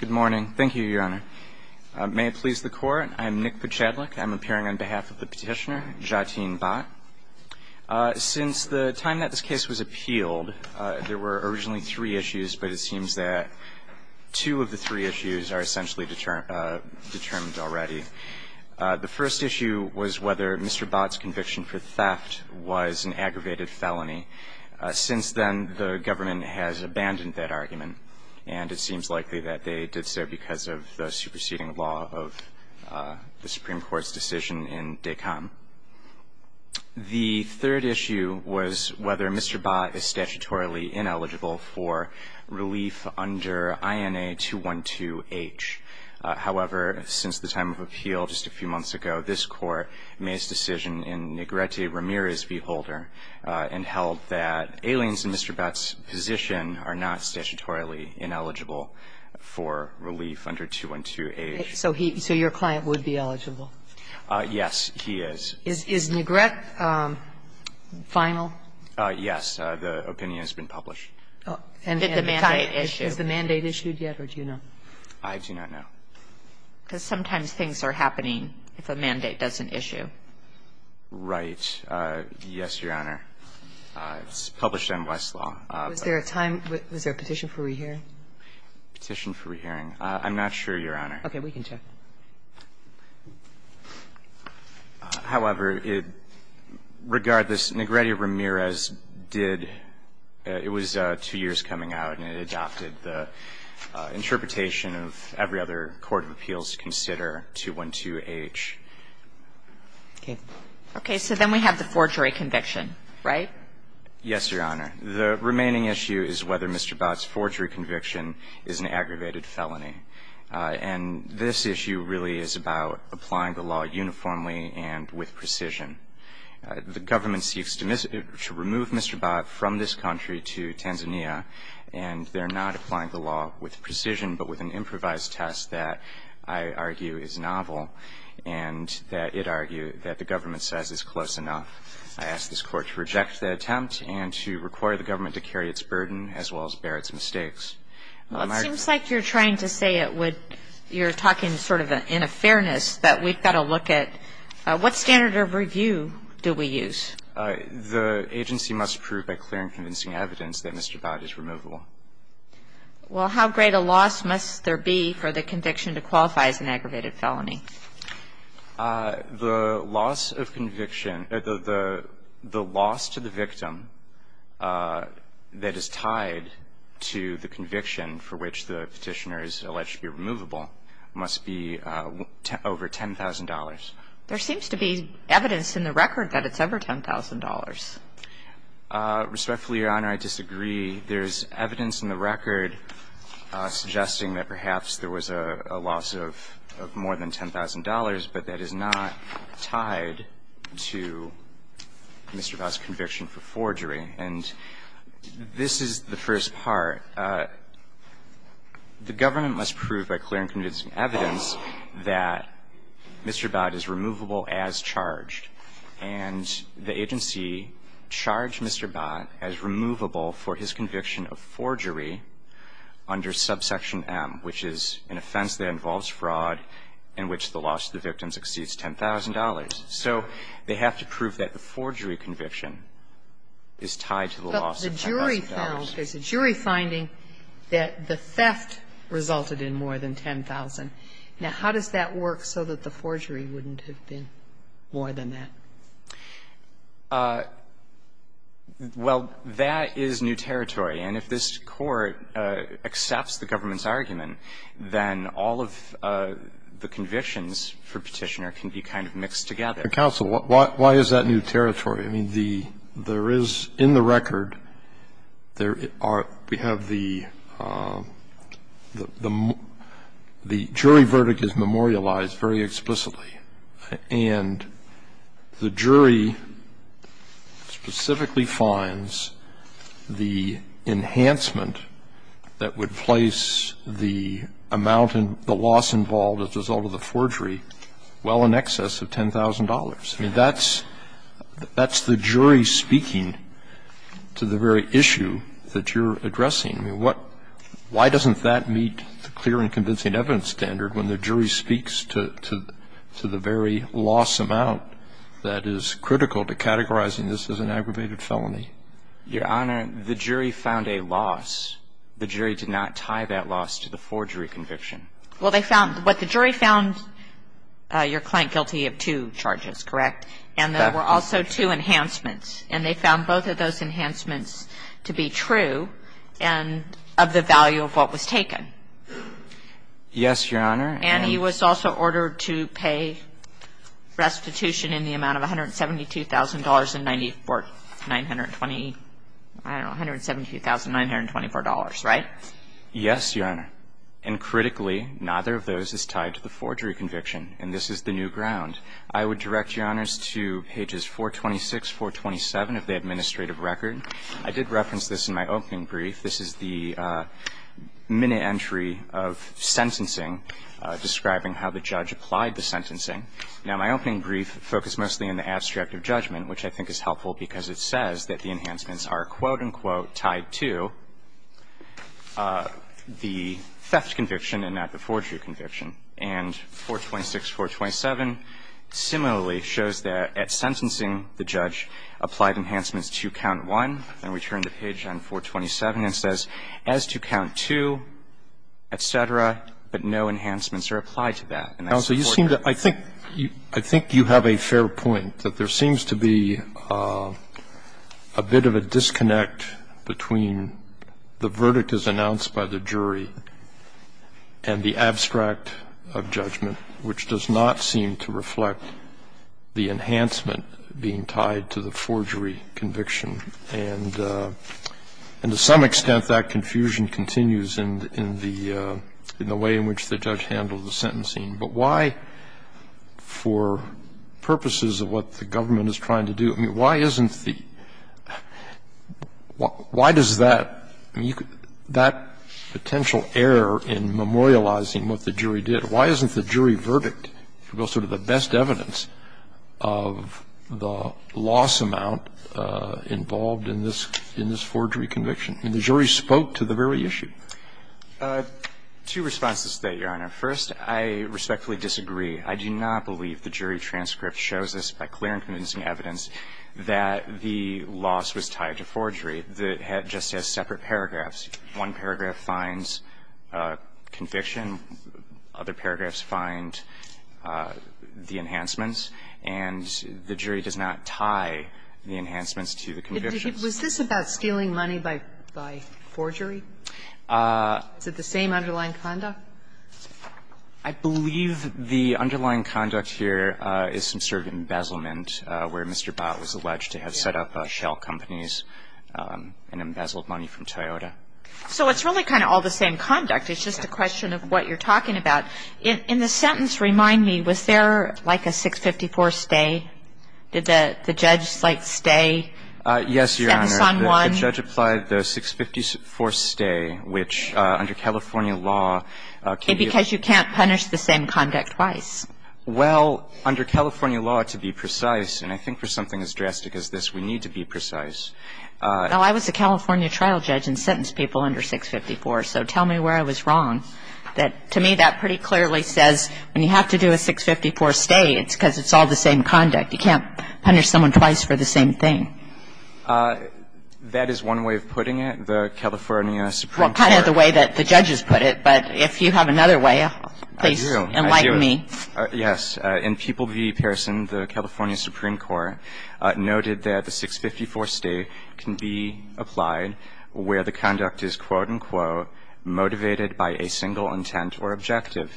Good morning. Thank you, Your Honor. May it please the Court, I'm Nick Pachadlik. I'm appearing on behalf of the petitioner, Jateen Bhatt. Since the time that this case was appealed, there were originally three issues, but it seems that two of the three issues are essentially determined already. The first issue was whether Mr. Bhatt's conviction for theft was an aggravated felony. Since then, the government has abandoned that argument, and it seems likely that they did so because of the superseding law of the Supreme Court's decision in DECOM. The third issue was whether Mr. Bhatt is statutorily ineligible for relief under INA 212H. However, since the time of appeal just a few months ago, this Court made its decision in Negrete Ramirez v. Holder and held that Ailene's and Mr. Bhatt's position are not statutorily ineligible for relief under 212H. So he – so your client would be eligible? Yes, he is. Is Negrete final? Yes. The opinion has been published. Did the mandate issue? Has the mandate issued yet, or do you know? I do not know. Because sometimes things are happening if a mandate doesn't issue. Right. Yes, Your Honor. It's published in Westlaw. Was there a time – was there a petition for re-hearing? Petition for re-hearing. I'm not sure, Your Honor. Okay. We can check. However, it – regardless, Negrete Ramirez did – it was two years coming out, and it adopted the interpretation of every other court of appeals to consider 212H. Okay. Okay. So then we have the forgery conviction, right? Yes, Your Honor. The remaining issue is whether Mr. Bhatt's forgery conviction is an aggravated felony. And this issue really is about applying the law uniformly and with precision. The government seeks to remove Mr. Bhatt from this country to Tanzania, and they're not applying the law with precision, but with an improvised test that I argue is novel and that it argues that the government says is close enough. I ask this Court to reject the attempt and to require the government to carry its burden as well as bear its mistakes. Well, it seems like you're trying to say it would – you're talking sort of in a fairness that we've got to look at what standard of review do we use? The agency must prove by clear and convincing evidence that Mr. Bhatt is removable. Well, how great a loss must there be for the conviction to qualify as an aggravated felony? The loss of conviction – the loss to the victim that is tied to the conviction for which the Petitioner has alleged to be removable must be over $10,000. There seems to be evidence in the record that it's over $10,000. Respectfully, Your Honor, I disagree. There's evidence in the record suggesting that perhaps there was a loss of more than $10,000, but that is not tied to Mr. Bhatt's conviction for forgery. And this is the first part. The government must prove by clear and convincing evidence that Mr. Bhatt is removable as charged, and the agency charged Mr. Bhatt as removable for his conviction of forgery under subsection M, which is an offense that involves fraud in which the loss to the victim exceeds $10,000. So they have to prove that the forgery conviction is tied to the loss of $10,000. But the jury found – there's a jury finding that the theft resulted in more than $10,000. Now, how does that work so that the forgery wouldn't have been more than that? Well, that is new territory. And if this Court accepts the government's argument, then all of the convictions for Petitioner can be kind of mixed together. But, counsel, why is that new territory? I mean, there is in the record, there are – we have the jury verdict is memorialized very explicitly, and the jury specifically finds the enhancement that would place the loss involved as a result of the forgery well in excess of $10,000. I mean, that's the jury speaking to the very issue that you're addressing. I mean, what – why doesn't that meet the clear and convincing evidence standard when the jury speaks to the very loss amount that is critical to categorizing this as an aggravated felony? Your Honor, the jury found a loss. The jury did not tie that loss to the forgery conviction. Well, they found – but the jury found your client guilty of two charges, correct? Correct. And there were also two enhancements. And they found both of those enhancements to be true and of the value of what was taken. Yes, Your Honor. And he was also ordered to pay restitution in the amount of $172,924. Right? Yes, Your Honor. And critically, neither of those is tied to the forgery conviction. And this is the new ground. I would direct Your Honors to pages 426, 427 of the administrative record. I did reference this in my opening brief. This is the minute entry of sentencing describing how the judge applied the sentencing. Now, my opening brief focused mostly in the abstract of judgment, which I think is helpful, because it says that the enhancements are, quote-unquote, tied to the theft conviction and not the forgery conviction. And 426, 427 similarly shows that at sentencing, the judge applied enhancements to count one. Then we turn to page 427 and it says, as to count two, et cetera, but no enhancements are applied to that. And I support that. Counsel, you seem to – I think you have a fair point, that there seems to be a bit of a disconnect between the verdict as announced by the jury and the abstract of judgment, which does not seem to reflect the enhancement being tied to the forgery conviction. And to some extent, that confusion continues in the way in which the judge handled the sentencing. But why, for purposes of what the government is trying to do, why isn't the – why does that – that potential error in memorializing what the jury did, why isn't the jury verdict the best evidence of the loss amount involved in this forgery conviction? I mean, the jury spoke to the very issue. Goldstein, I think. Goldstein, Jr.: Two responses to that, Your Honor. First, I respectfully disagree. I do not believe the jury transcript shows us, by clear and convincing evidence, that the loss was tied to forgery, that it just has separate paragraphs. One paragraph finds conviction, other paragraphs find the enhancements, and the jury does not tie the enhancements to the convictions. Sotomayor, was this about stealing money by forgery? Is it the same underlying conduct? I believe the underlying conduct here is some sort of embezzlement where Mr. Bott was alleged to have set up shell companies and embezzled money from Toyota. So it's really kind of all the same conduct. It's just a question of what you're talking about. In the sentence, remind me, was there, like, a 654 stay? Did the judge, like, stay? Yes, Your Honor. And the son won? The judge applied the 654 stay, which, under California law, can you ---- Because you can't punish the same conduct twice. Well, under California law, to be precise, and I think for something as drastic as this, we need to be precise. Well, I was a California trial judge and sentenced people under 654, so tell me where I was wrong. To me, that pretty clearly says when you have to do a 654 stay, it's because it's all the same conduct. You can't punish someone twice for the same thing. That is one way of putting it. The California Supreme Court ---- Well, kind of the way that the judges put it. But if you have another way, please enlighten me. I do. Yes. In People v. Pearson, the California Supreme Court noted that the 654 stay can be applied where the conduct is, quote, unquote, motivated by a single intent or objective.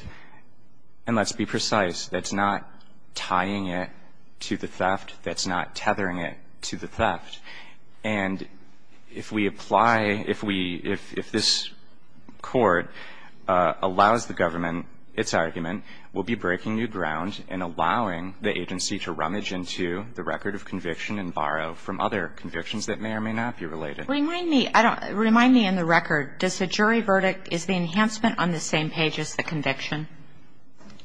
And let's be precise. That's not tying it to the theft. That's not tethering it to the theft. And if we apply ---- if we ---- if this Court allows the government its argument, we'll be breaking new ground and allowing the agency to rummage into the record of conviction and borrow from other convictions that may or may not be related. Remind me. I don't ---- remind me in the record. Does the jury verdict ---- is the enhancement on the same page as the conviction?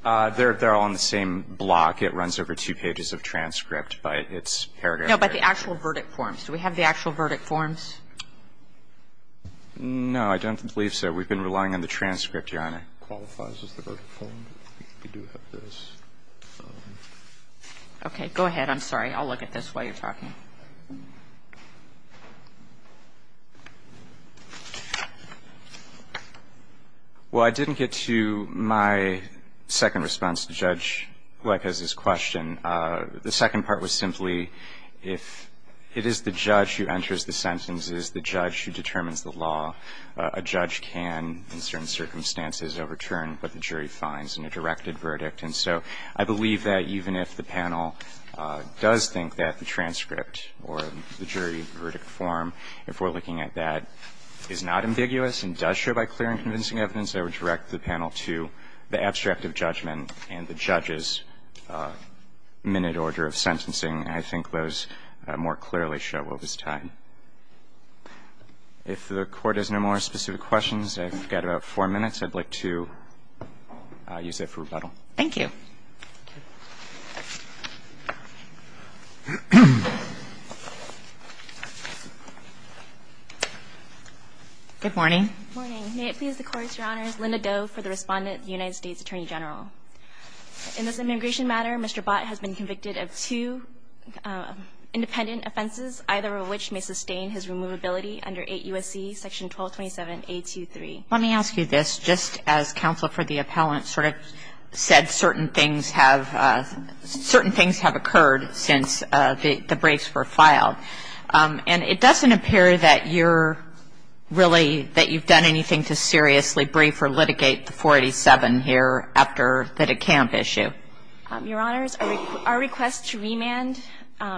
They're all on the same block. It runs over two pages of transcript by its paragraph. No, but the actual verdict forms. Do we have the actual verdict forms? No. I don't believe so. We've been relying on the transcript, Your Honor. Qualifies as the verdict form. We do have those. Okay. Go ahead. I'm sorry. I'll look at this while you're talking. Well, I didn't get to my second response to Judge Gleick, who has this question. The second part was simply if it is the judge who enters the sentences, the judge who determines the law, a judge can, in certain circumstances, overturn what the jury finds in a directed verdict. And so I believe that even if the panel does think that the transcript or the jury verdict form, if we're looking at that, is not ambiguous and does show by clear and convincing evidence, I would direct the panel to the abstract of judgment and the judge's minute order of sentencing. I think those more clearly show what was tied. If the Court has no more specific questions, I've got about four minutes. I'd like to use that for rebuttal. Thank you. Thank you. Good morning. Good morning. May it please the Court, Your Honors. Linda Doe for the respondent, the United States Attorney General. In this immigration matter, Mr. Bott has been convicted of two independent offenses, either of which may sustain his removability under 8 U.S.C. Section 1227A23. Let me ask you this. Just as counsel for the appellant sort of said, certain things have occurred since the briefs were filed. And it doesn't appear that you're really, that you've done anything to seriously brief or litigate the 487 here after the DeCamp issue. Your Honors, our request to remand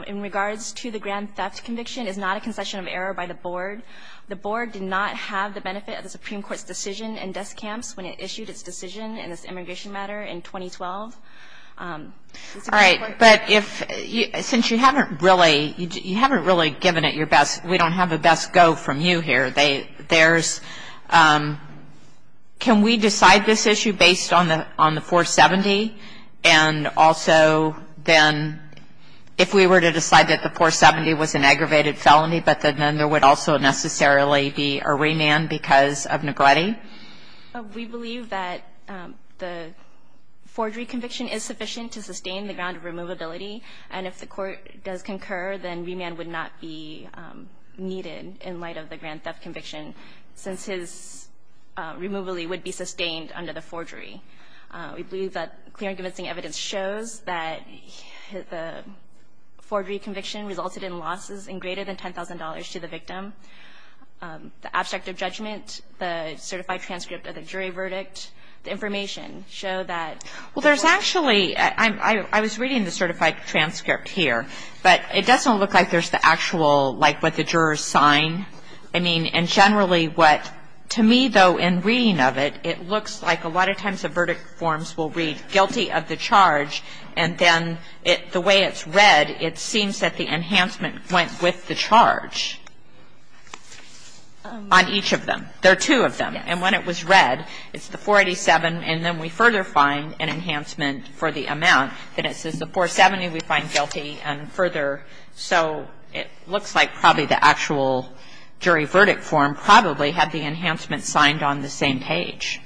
in regards to the grand theft conviction is not a concession of error by the Board. The Board did not have the benefit of the Supreme Court's decision in DeCamps when it issued its decision in this immigration matter in 2012. All right. But if, since you haven't really, you haven't really given it your best, we don't have the best go from you here. There's, can we decide this issue based on the 470? And also then, if we were to decide that the 470 was an aggravated felony, but then there would also necessarily be a remand because of negligee? We believe that the forgery conviction is sufficient to sustain the ground of removability. And if the Court does concur, then remand would not be needed in light of the grand theft conviction, since his removalee would be sustained under the forgery. We believe that clear and convincing evidence shows that the forgery conviction resulted in losses in greater than $10,000 to the victim. The abstract of judgment, the certified transcript of the jury verdict, the information show that. Well, there's actually, I was reading the certified transcript here, but it doesn't look like there's the actual, like what the jurors sign. I mean, and generally what, to me though, in reading of it, it looks like a lot of times the verdict forms will read guilty of the charge and then the way it's read, it seems that the enhancement went with the charge on each of them. There are two of them. And when it was read, it's the 487, and then we further find an enhancement for the amount. Then it says the 470 we find guilty and further. So it looks like probably the actual jury verdict form probably had the enhancement signed on the same page.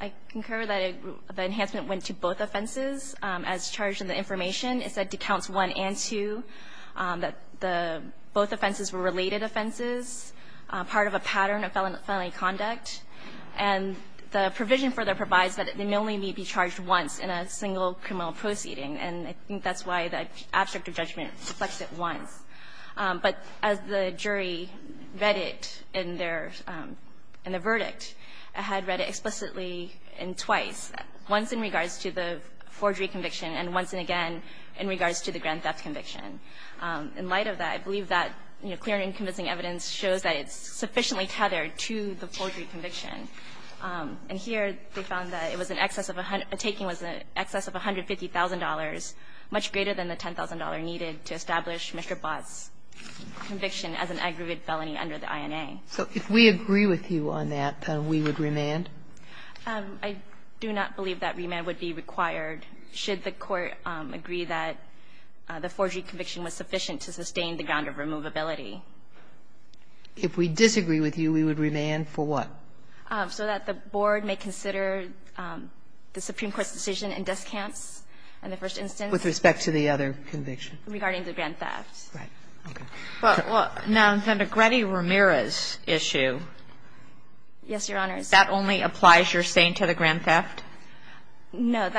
I concur that the enhancement went to both offenses. As charged in the information, it said to counts one and two that the both offenses were related offenses, part of a pattern of felony conduct. And the provision further provides that it may only be charged once in a single criminal proceeding. And I think that's why the abstract of judgment reflects it once. But as the jury read it in their, in the verdict, it had read it explicitly and twice, once in regards to the forgery conviction and once and again in regards to the grand theft conviction. In light of that, I believe that clear and convincing evidence shows that it's sufficiently tethered to the forgery conviction. And here they found that it was in excess of, a taking was in excess of $150,000, much greater than the $10,000 needed to establish Mr. Bott's conviction as an aggregate felony under the INA. So if we agree with you on that, then we would remand? I do not believe that remand would be required should the Court agree that the forgery conviction was sufficient to sustain the ground of removability. If we disagree with you, we would remand for what? So that the Board may consider the Supreme Court's decision in desk camps in the first instance. With respect to the other conviction? Regarding the grand theft. Right. Okay. Now, the Negrete-Ramirez issue. Yes, Your Honors. That only applies, you're saying, to the grand theft? No. The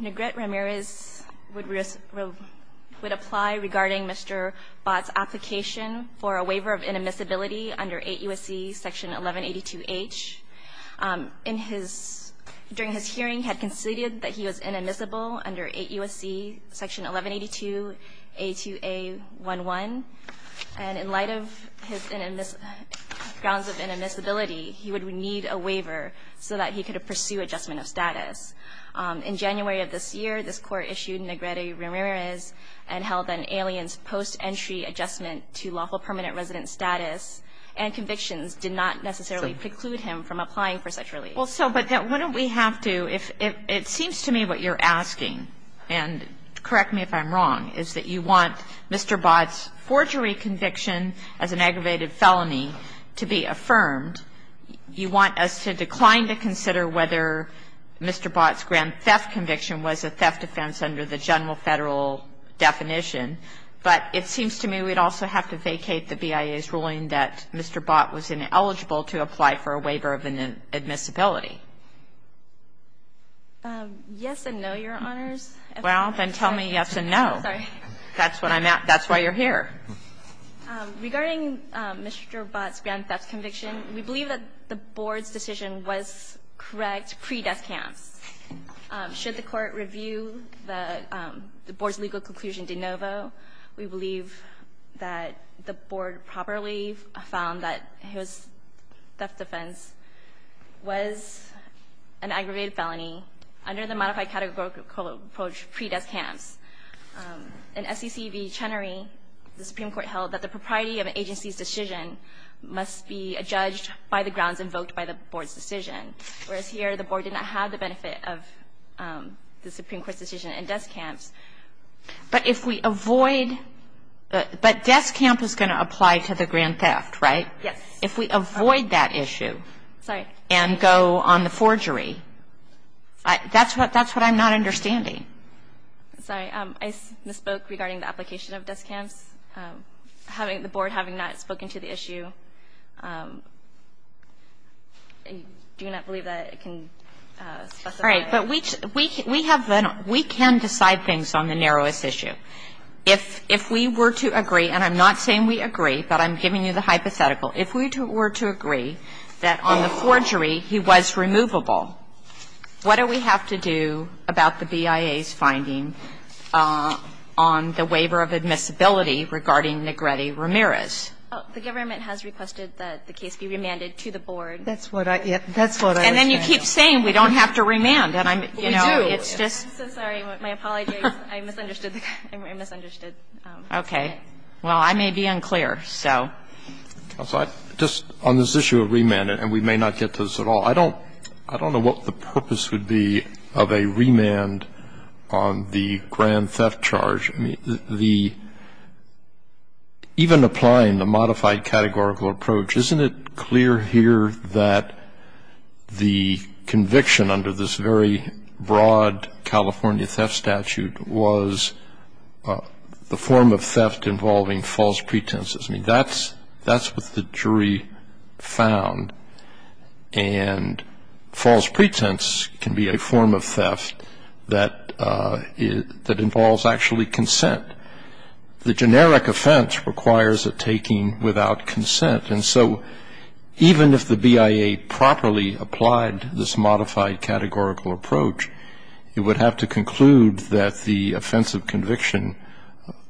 Negrete-Ramirez would apply regarding Mr. Bott's application for a waiver of inadmissibility under 8 U.S.C. Section 1182H. In his, during his hearing, had conceded that he was inadmissible under 8 U.S.C. Section 1182A2A11. And in light of his grounds of inadmissibility, he would need a waiver so that he could pursue adjustment of status. In January of this year, this Court issued Negrete-Ramirez and held that an alien's post-entry adjustment to lawful permanent resident status and convictions did not necessarily preclude him from applying for such relief. Well, so, but then wouldn't we have to, if, it seems to me what you're asking, and correct me if I'm wrong, is that you want Mr. Bott's forgery conviction as an aggravated felony to be affirmed. You want us to decline to consider whether Mr. Bott's grand theft conviction was a theft offense under the general federal definition. But it seems to me we'd also have to vacate the BIA's ruling that Mr. Bott was eligible to apply for a waiver of inadmissibility. Yes and no, Your Honors. Well, then tell me yes and no. Sorry. That's what I'm asking. That's why you're here. Regarding Mr. Bott's grand theft conviction, we believe that the Board's decision was correct pre-death counts. Should the Court review the Board's legal conclusion de novo, we believe that the grand theft offense was an aggravated felony under the modified categorical approach pre-death counts. In SEC v. Chenery, the Supreme Court held that the propriety of an agency's decision must be judged by the grounds invoked by the Board's decision. Whereas here, the Board did not have the benefit of the Supreme Court's decision in death counts. But if we avoid, but death count is going to apply to the grand theft, right? Yes. If we avoid that issue and go on the forgery, that's what I'm not understanding. Sorry. I misspoke regarding the application of death counts. The Board, having not spoken to the issue, do not believe that it can specify. All right. But we can decide things on the narrowest issue. If we were to agree, and I'm not saying we agree, but I'm giving you the hypothetical. If we were to agree that on the forgery he was removable, what do we have to do about the BIA's finding on the waiver of admissibility regarding Negrete Ramirez? The government has requested that the case be remanded to the Board. That's what I was saying. And then you keep saying we don't have to remand. We do. I'm so sorry. My apologies. I misunderstood. I misunderstood. Okay. Well, I may be unclear, so. Just on this issue of remand, and we may not get to this at all. I don't know what the purpose would be of a remand on the grand theft charge. Even applying the modified categorical approach, isn't it clear here that the conviction under this very broad California theft statute was the form of theft involving false pretenses? I mean, that's what the jury found. And false pretense can be a form of theft that involves actually consent. The generic offense requires a taking without consent. And so even if the BIA properly applied this modified categorical approach, it would have to conclude that the offensive conviction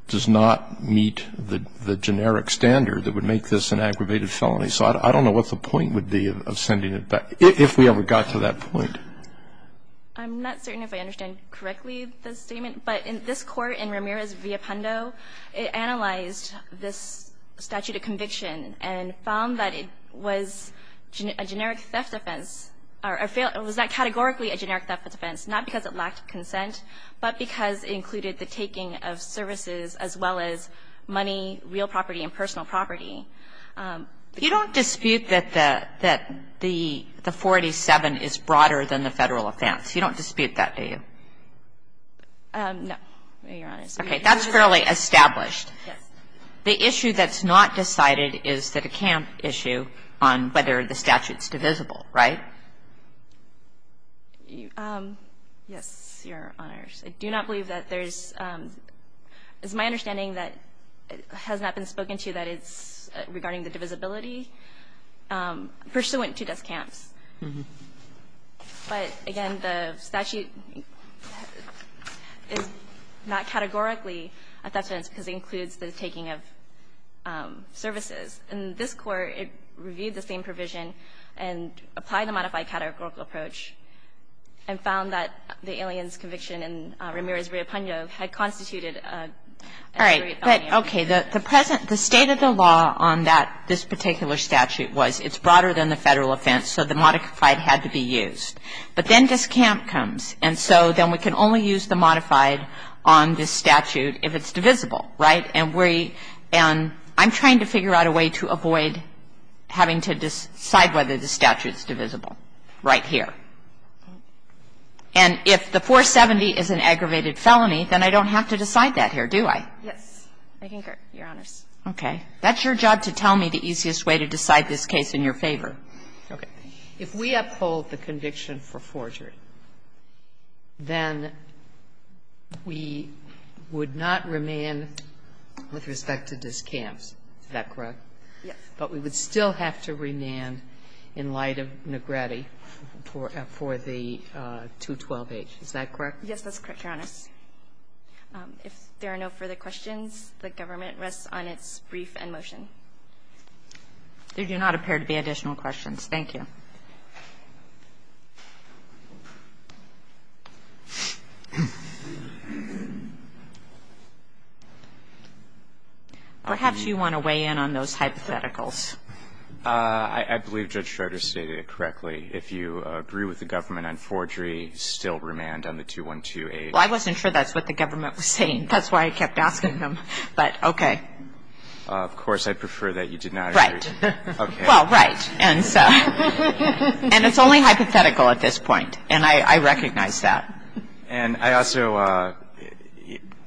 does not meet the generic standard that would make this an aggravated felony. So I don't know what the point would be of sending it back, if we ever got to that point. I'm not certain if I understand correctly the statement. But in this court, in Ramirez-Villapando, it analyzed this statute of conviction and found that it was a generic theft offense. It was not categorically a generic theft offense, not because it lacked consent, but because it included the taking of services as well as money, real property, and personal property. You don't dispute that the 487 is broader than the Federal offense. You don't dispute that, do you? No, Your Honor. Okay. That's fairly established. Yes. The issue that's not decided is that a camp issue on whether the statute's divisible, right? Yes, Your Honor. I do not believe that there's, it's my understanding that it has not been spoken to that it's regarding the divisibility pursuant to those camps. But again, the statute is not categorically a theft offense because it includes the taking of services. In this court, it reviewed the same provision and applied the modified categorical approach and found that the alien's conviction in Ramirez-Villapando had constituted a great felony. All right. Okay. The present, the state of the law on that, this particular statute was it's broader than the Federal offense. So the modified had to be used. But then this camp comes. And so then we can only use the modified on this statute if it's divisible, right? And we, and I'm trying to figure out a way to avoid having to decide whether the statute's divisible right here. Okay. And if the 470 is an aggravated felony, then I don't have to decide that here, do I? Yes. I think you're honest. Okay. That's your job to tell me the easiest way to decide this case in your favor. Okay. If we uphold the conviction for forgery, then we would not remand with respect to this camp. Is that correct? Yes. But we would still have to remand in light of Negretti for the 212H. Is that correct? Yes, that's correct, Your Honor. If there are no further questions, the government rests on its brief and motion. There do not appear to be additional questions. Thank you. Perhaps you want to weigh in on those hypotheticals. I believe Judge Schroeder stated it correctly. If you agree with the government on forgery, still remand on the 212H. Well, I wasn't sure that's what the government was saying. That's why I kept asking him. But okay. Of course, I prefer that you did not agree. Right. Okay. Well, right. And it's only hypothetical at this point, and I recognize that. And I also,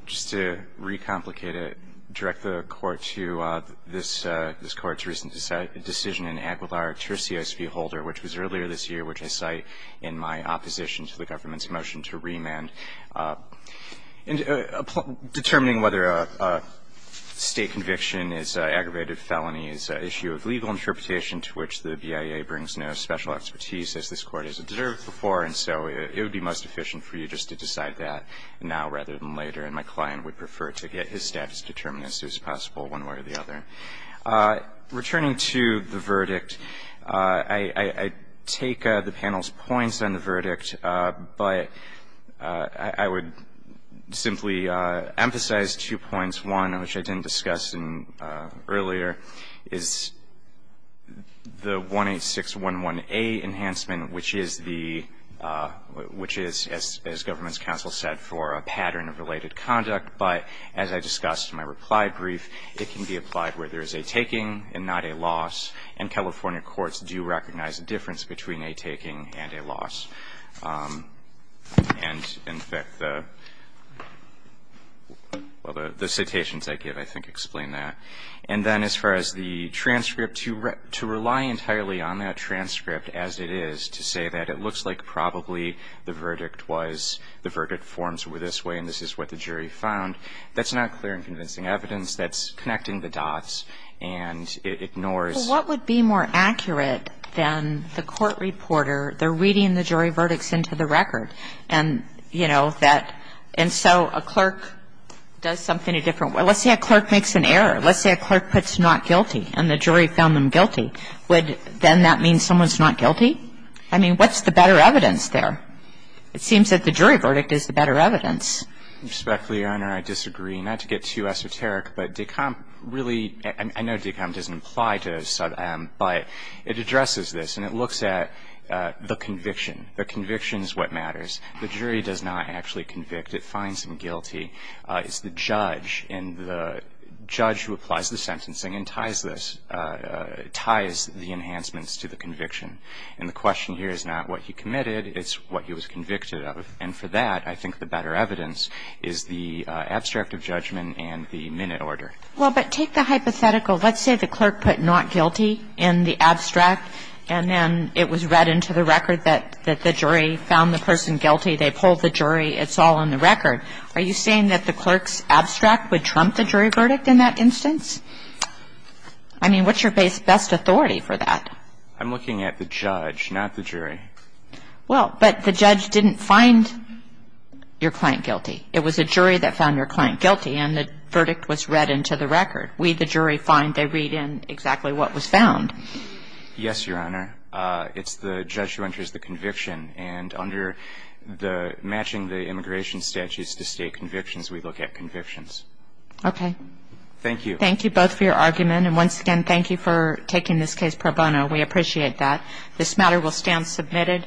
just to recomplicate it, direct the Court to this Court's recent decision in Aguilar v. Holder, which was earlier this year, which I cite in my opposition to the government's motion to remand. And determining whether a state conviction is an aggravated felony is an issue of legal interpretation to which the BIA brings no special expertise, as this Court has observed before. And so it would be most efficient for you just to decide that now rather than later. And my client would prefer to get his status determined as soon as possible, one way or the other. Returning to the verdict, I take the panel's points on the verdict. But I would simply emphasize two points. One, which I didn't discuss earlier, is the 18611A enhancement, which is, as government's counsel said, for a pattern of related conduct. But as I discussed in my reply brief, it can be applied where there is a taking and not a loss. And California courts do recognize a difference between a taking and a loss. And, in fact, the citations I give, I think, explain that. And then as far as the transcript, to rely entirely on that transcript as it is to say that it looks like probably the verdict was, the verdict forms were this way and this is what the jury found, that's not clear and convincing evidence. That's connecting the dots and it ignores. Well, what would be more accurate than the court reporter, they're reading the jury verdicts into the record. And, you know, that, and so a clerk does something a different way. Let's say a clerk makes an error. Let's say a clerk puts not guilty and the jury found them guilty. Would then that mean someone's not guilty? I mean, what's the better evidence there? It seems that the jury verdict is the better evidence. Respectfully, Your Honor, I disagree. Not to get too esoteric, but de Camp really, I know de Camp doesn't imply to some, but it addresses this and it looks at the conviction. The conviction is what matters. The jury does not actually convict. It finds them guilty. It's the judge and the judge who applies the sentencing and ties this, ties the enhancements to the conviction. And the question here is not what he committed. It's what he was convicted of. And for that, I think the better evidence is the abstract of judgment and the minute order. Well, but take the hypothetical. Let's say the clerk put not guilty in the abstract and then it was read into the record that the jury found the person guilty. They pulled the jury. It's all in the record. Are you saying that the clerk's abstract would trump the jury verdict in that instance? I'm looking at the judge, not the jury. Well, but the judge didn't find your client guilty. It was a jury that found your client guilty and the verdict was read into the record. We, the jury, find they read in exactly what was found. Yes, Your Honor. It's the judge who enters the conviction and under the matching the immigration statutes to state convictions, we look at convictions. Okay. Thank you. Thank you both for your argument and once again, thank you for taking this case pro bono. We appreciate that. This matter will stand submitted.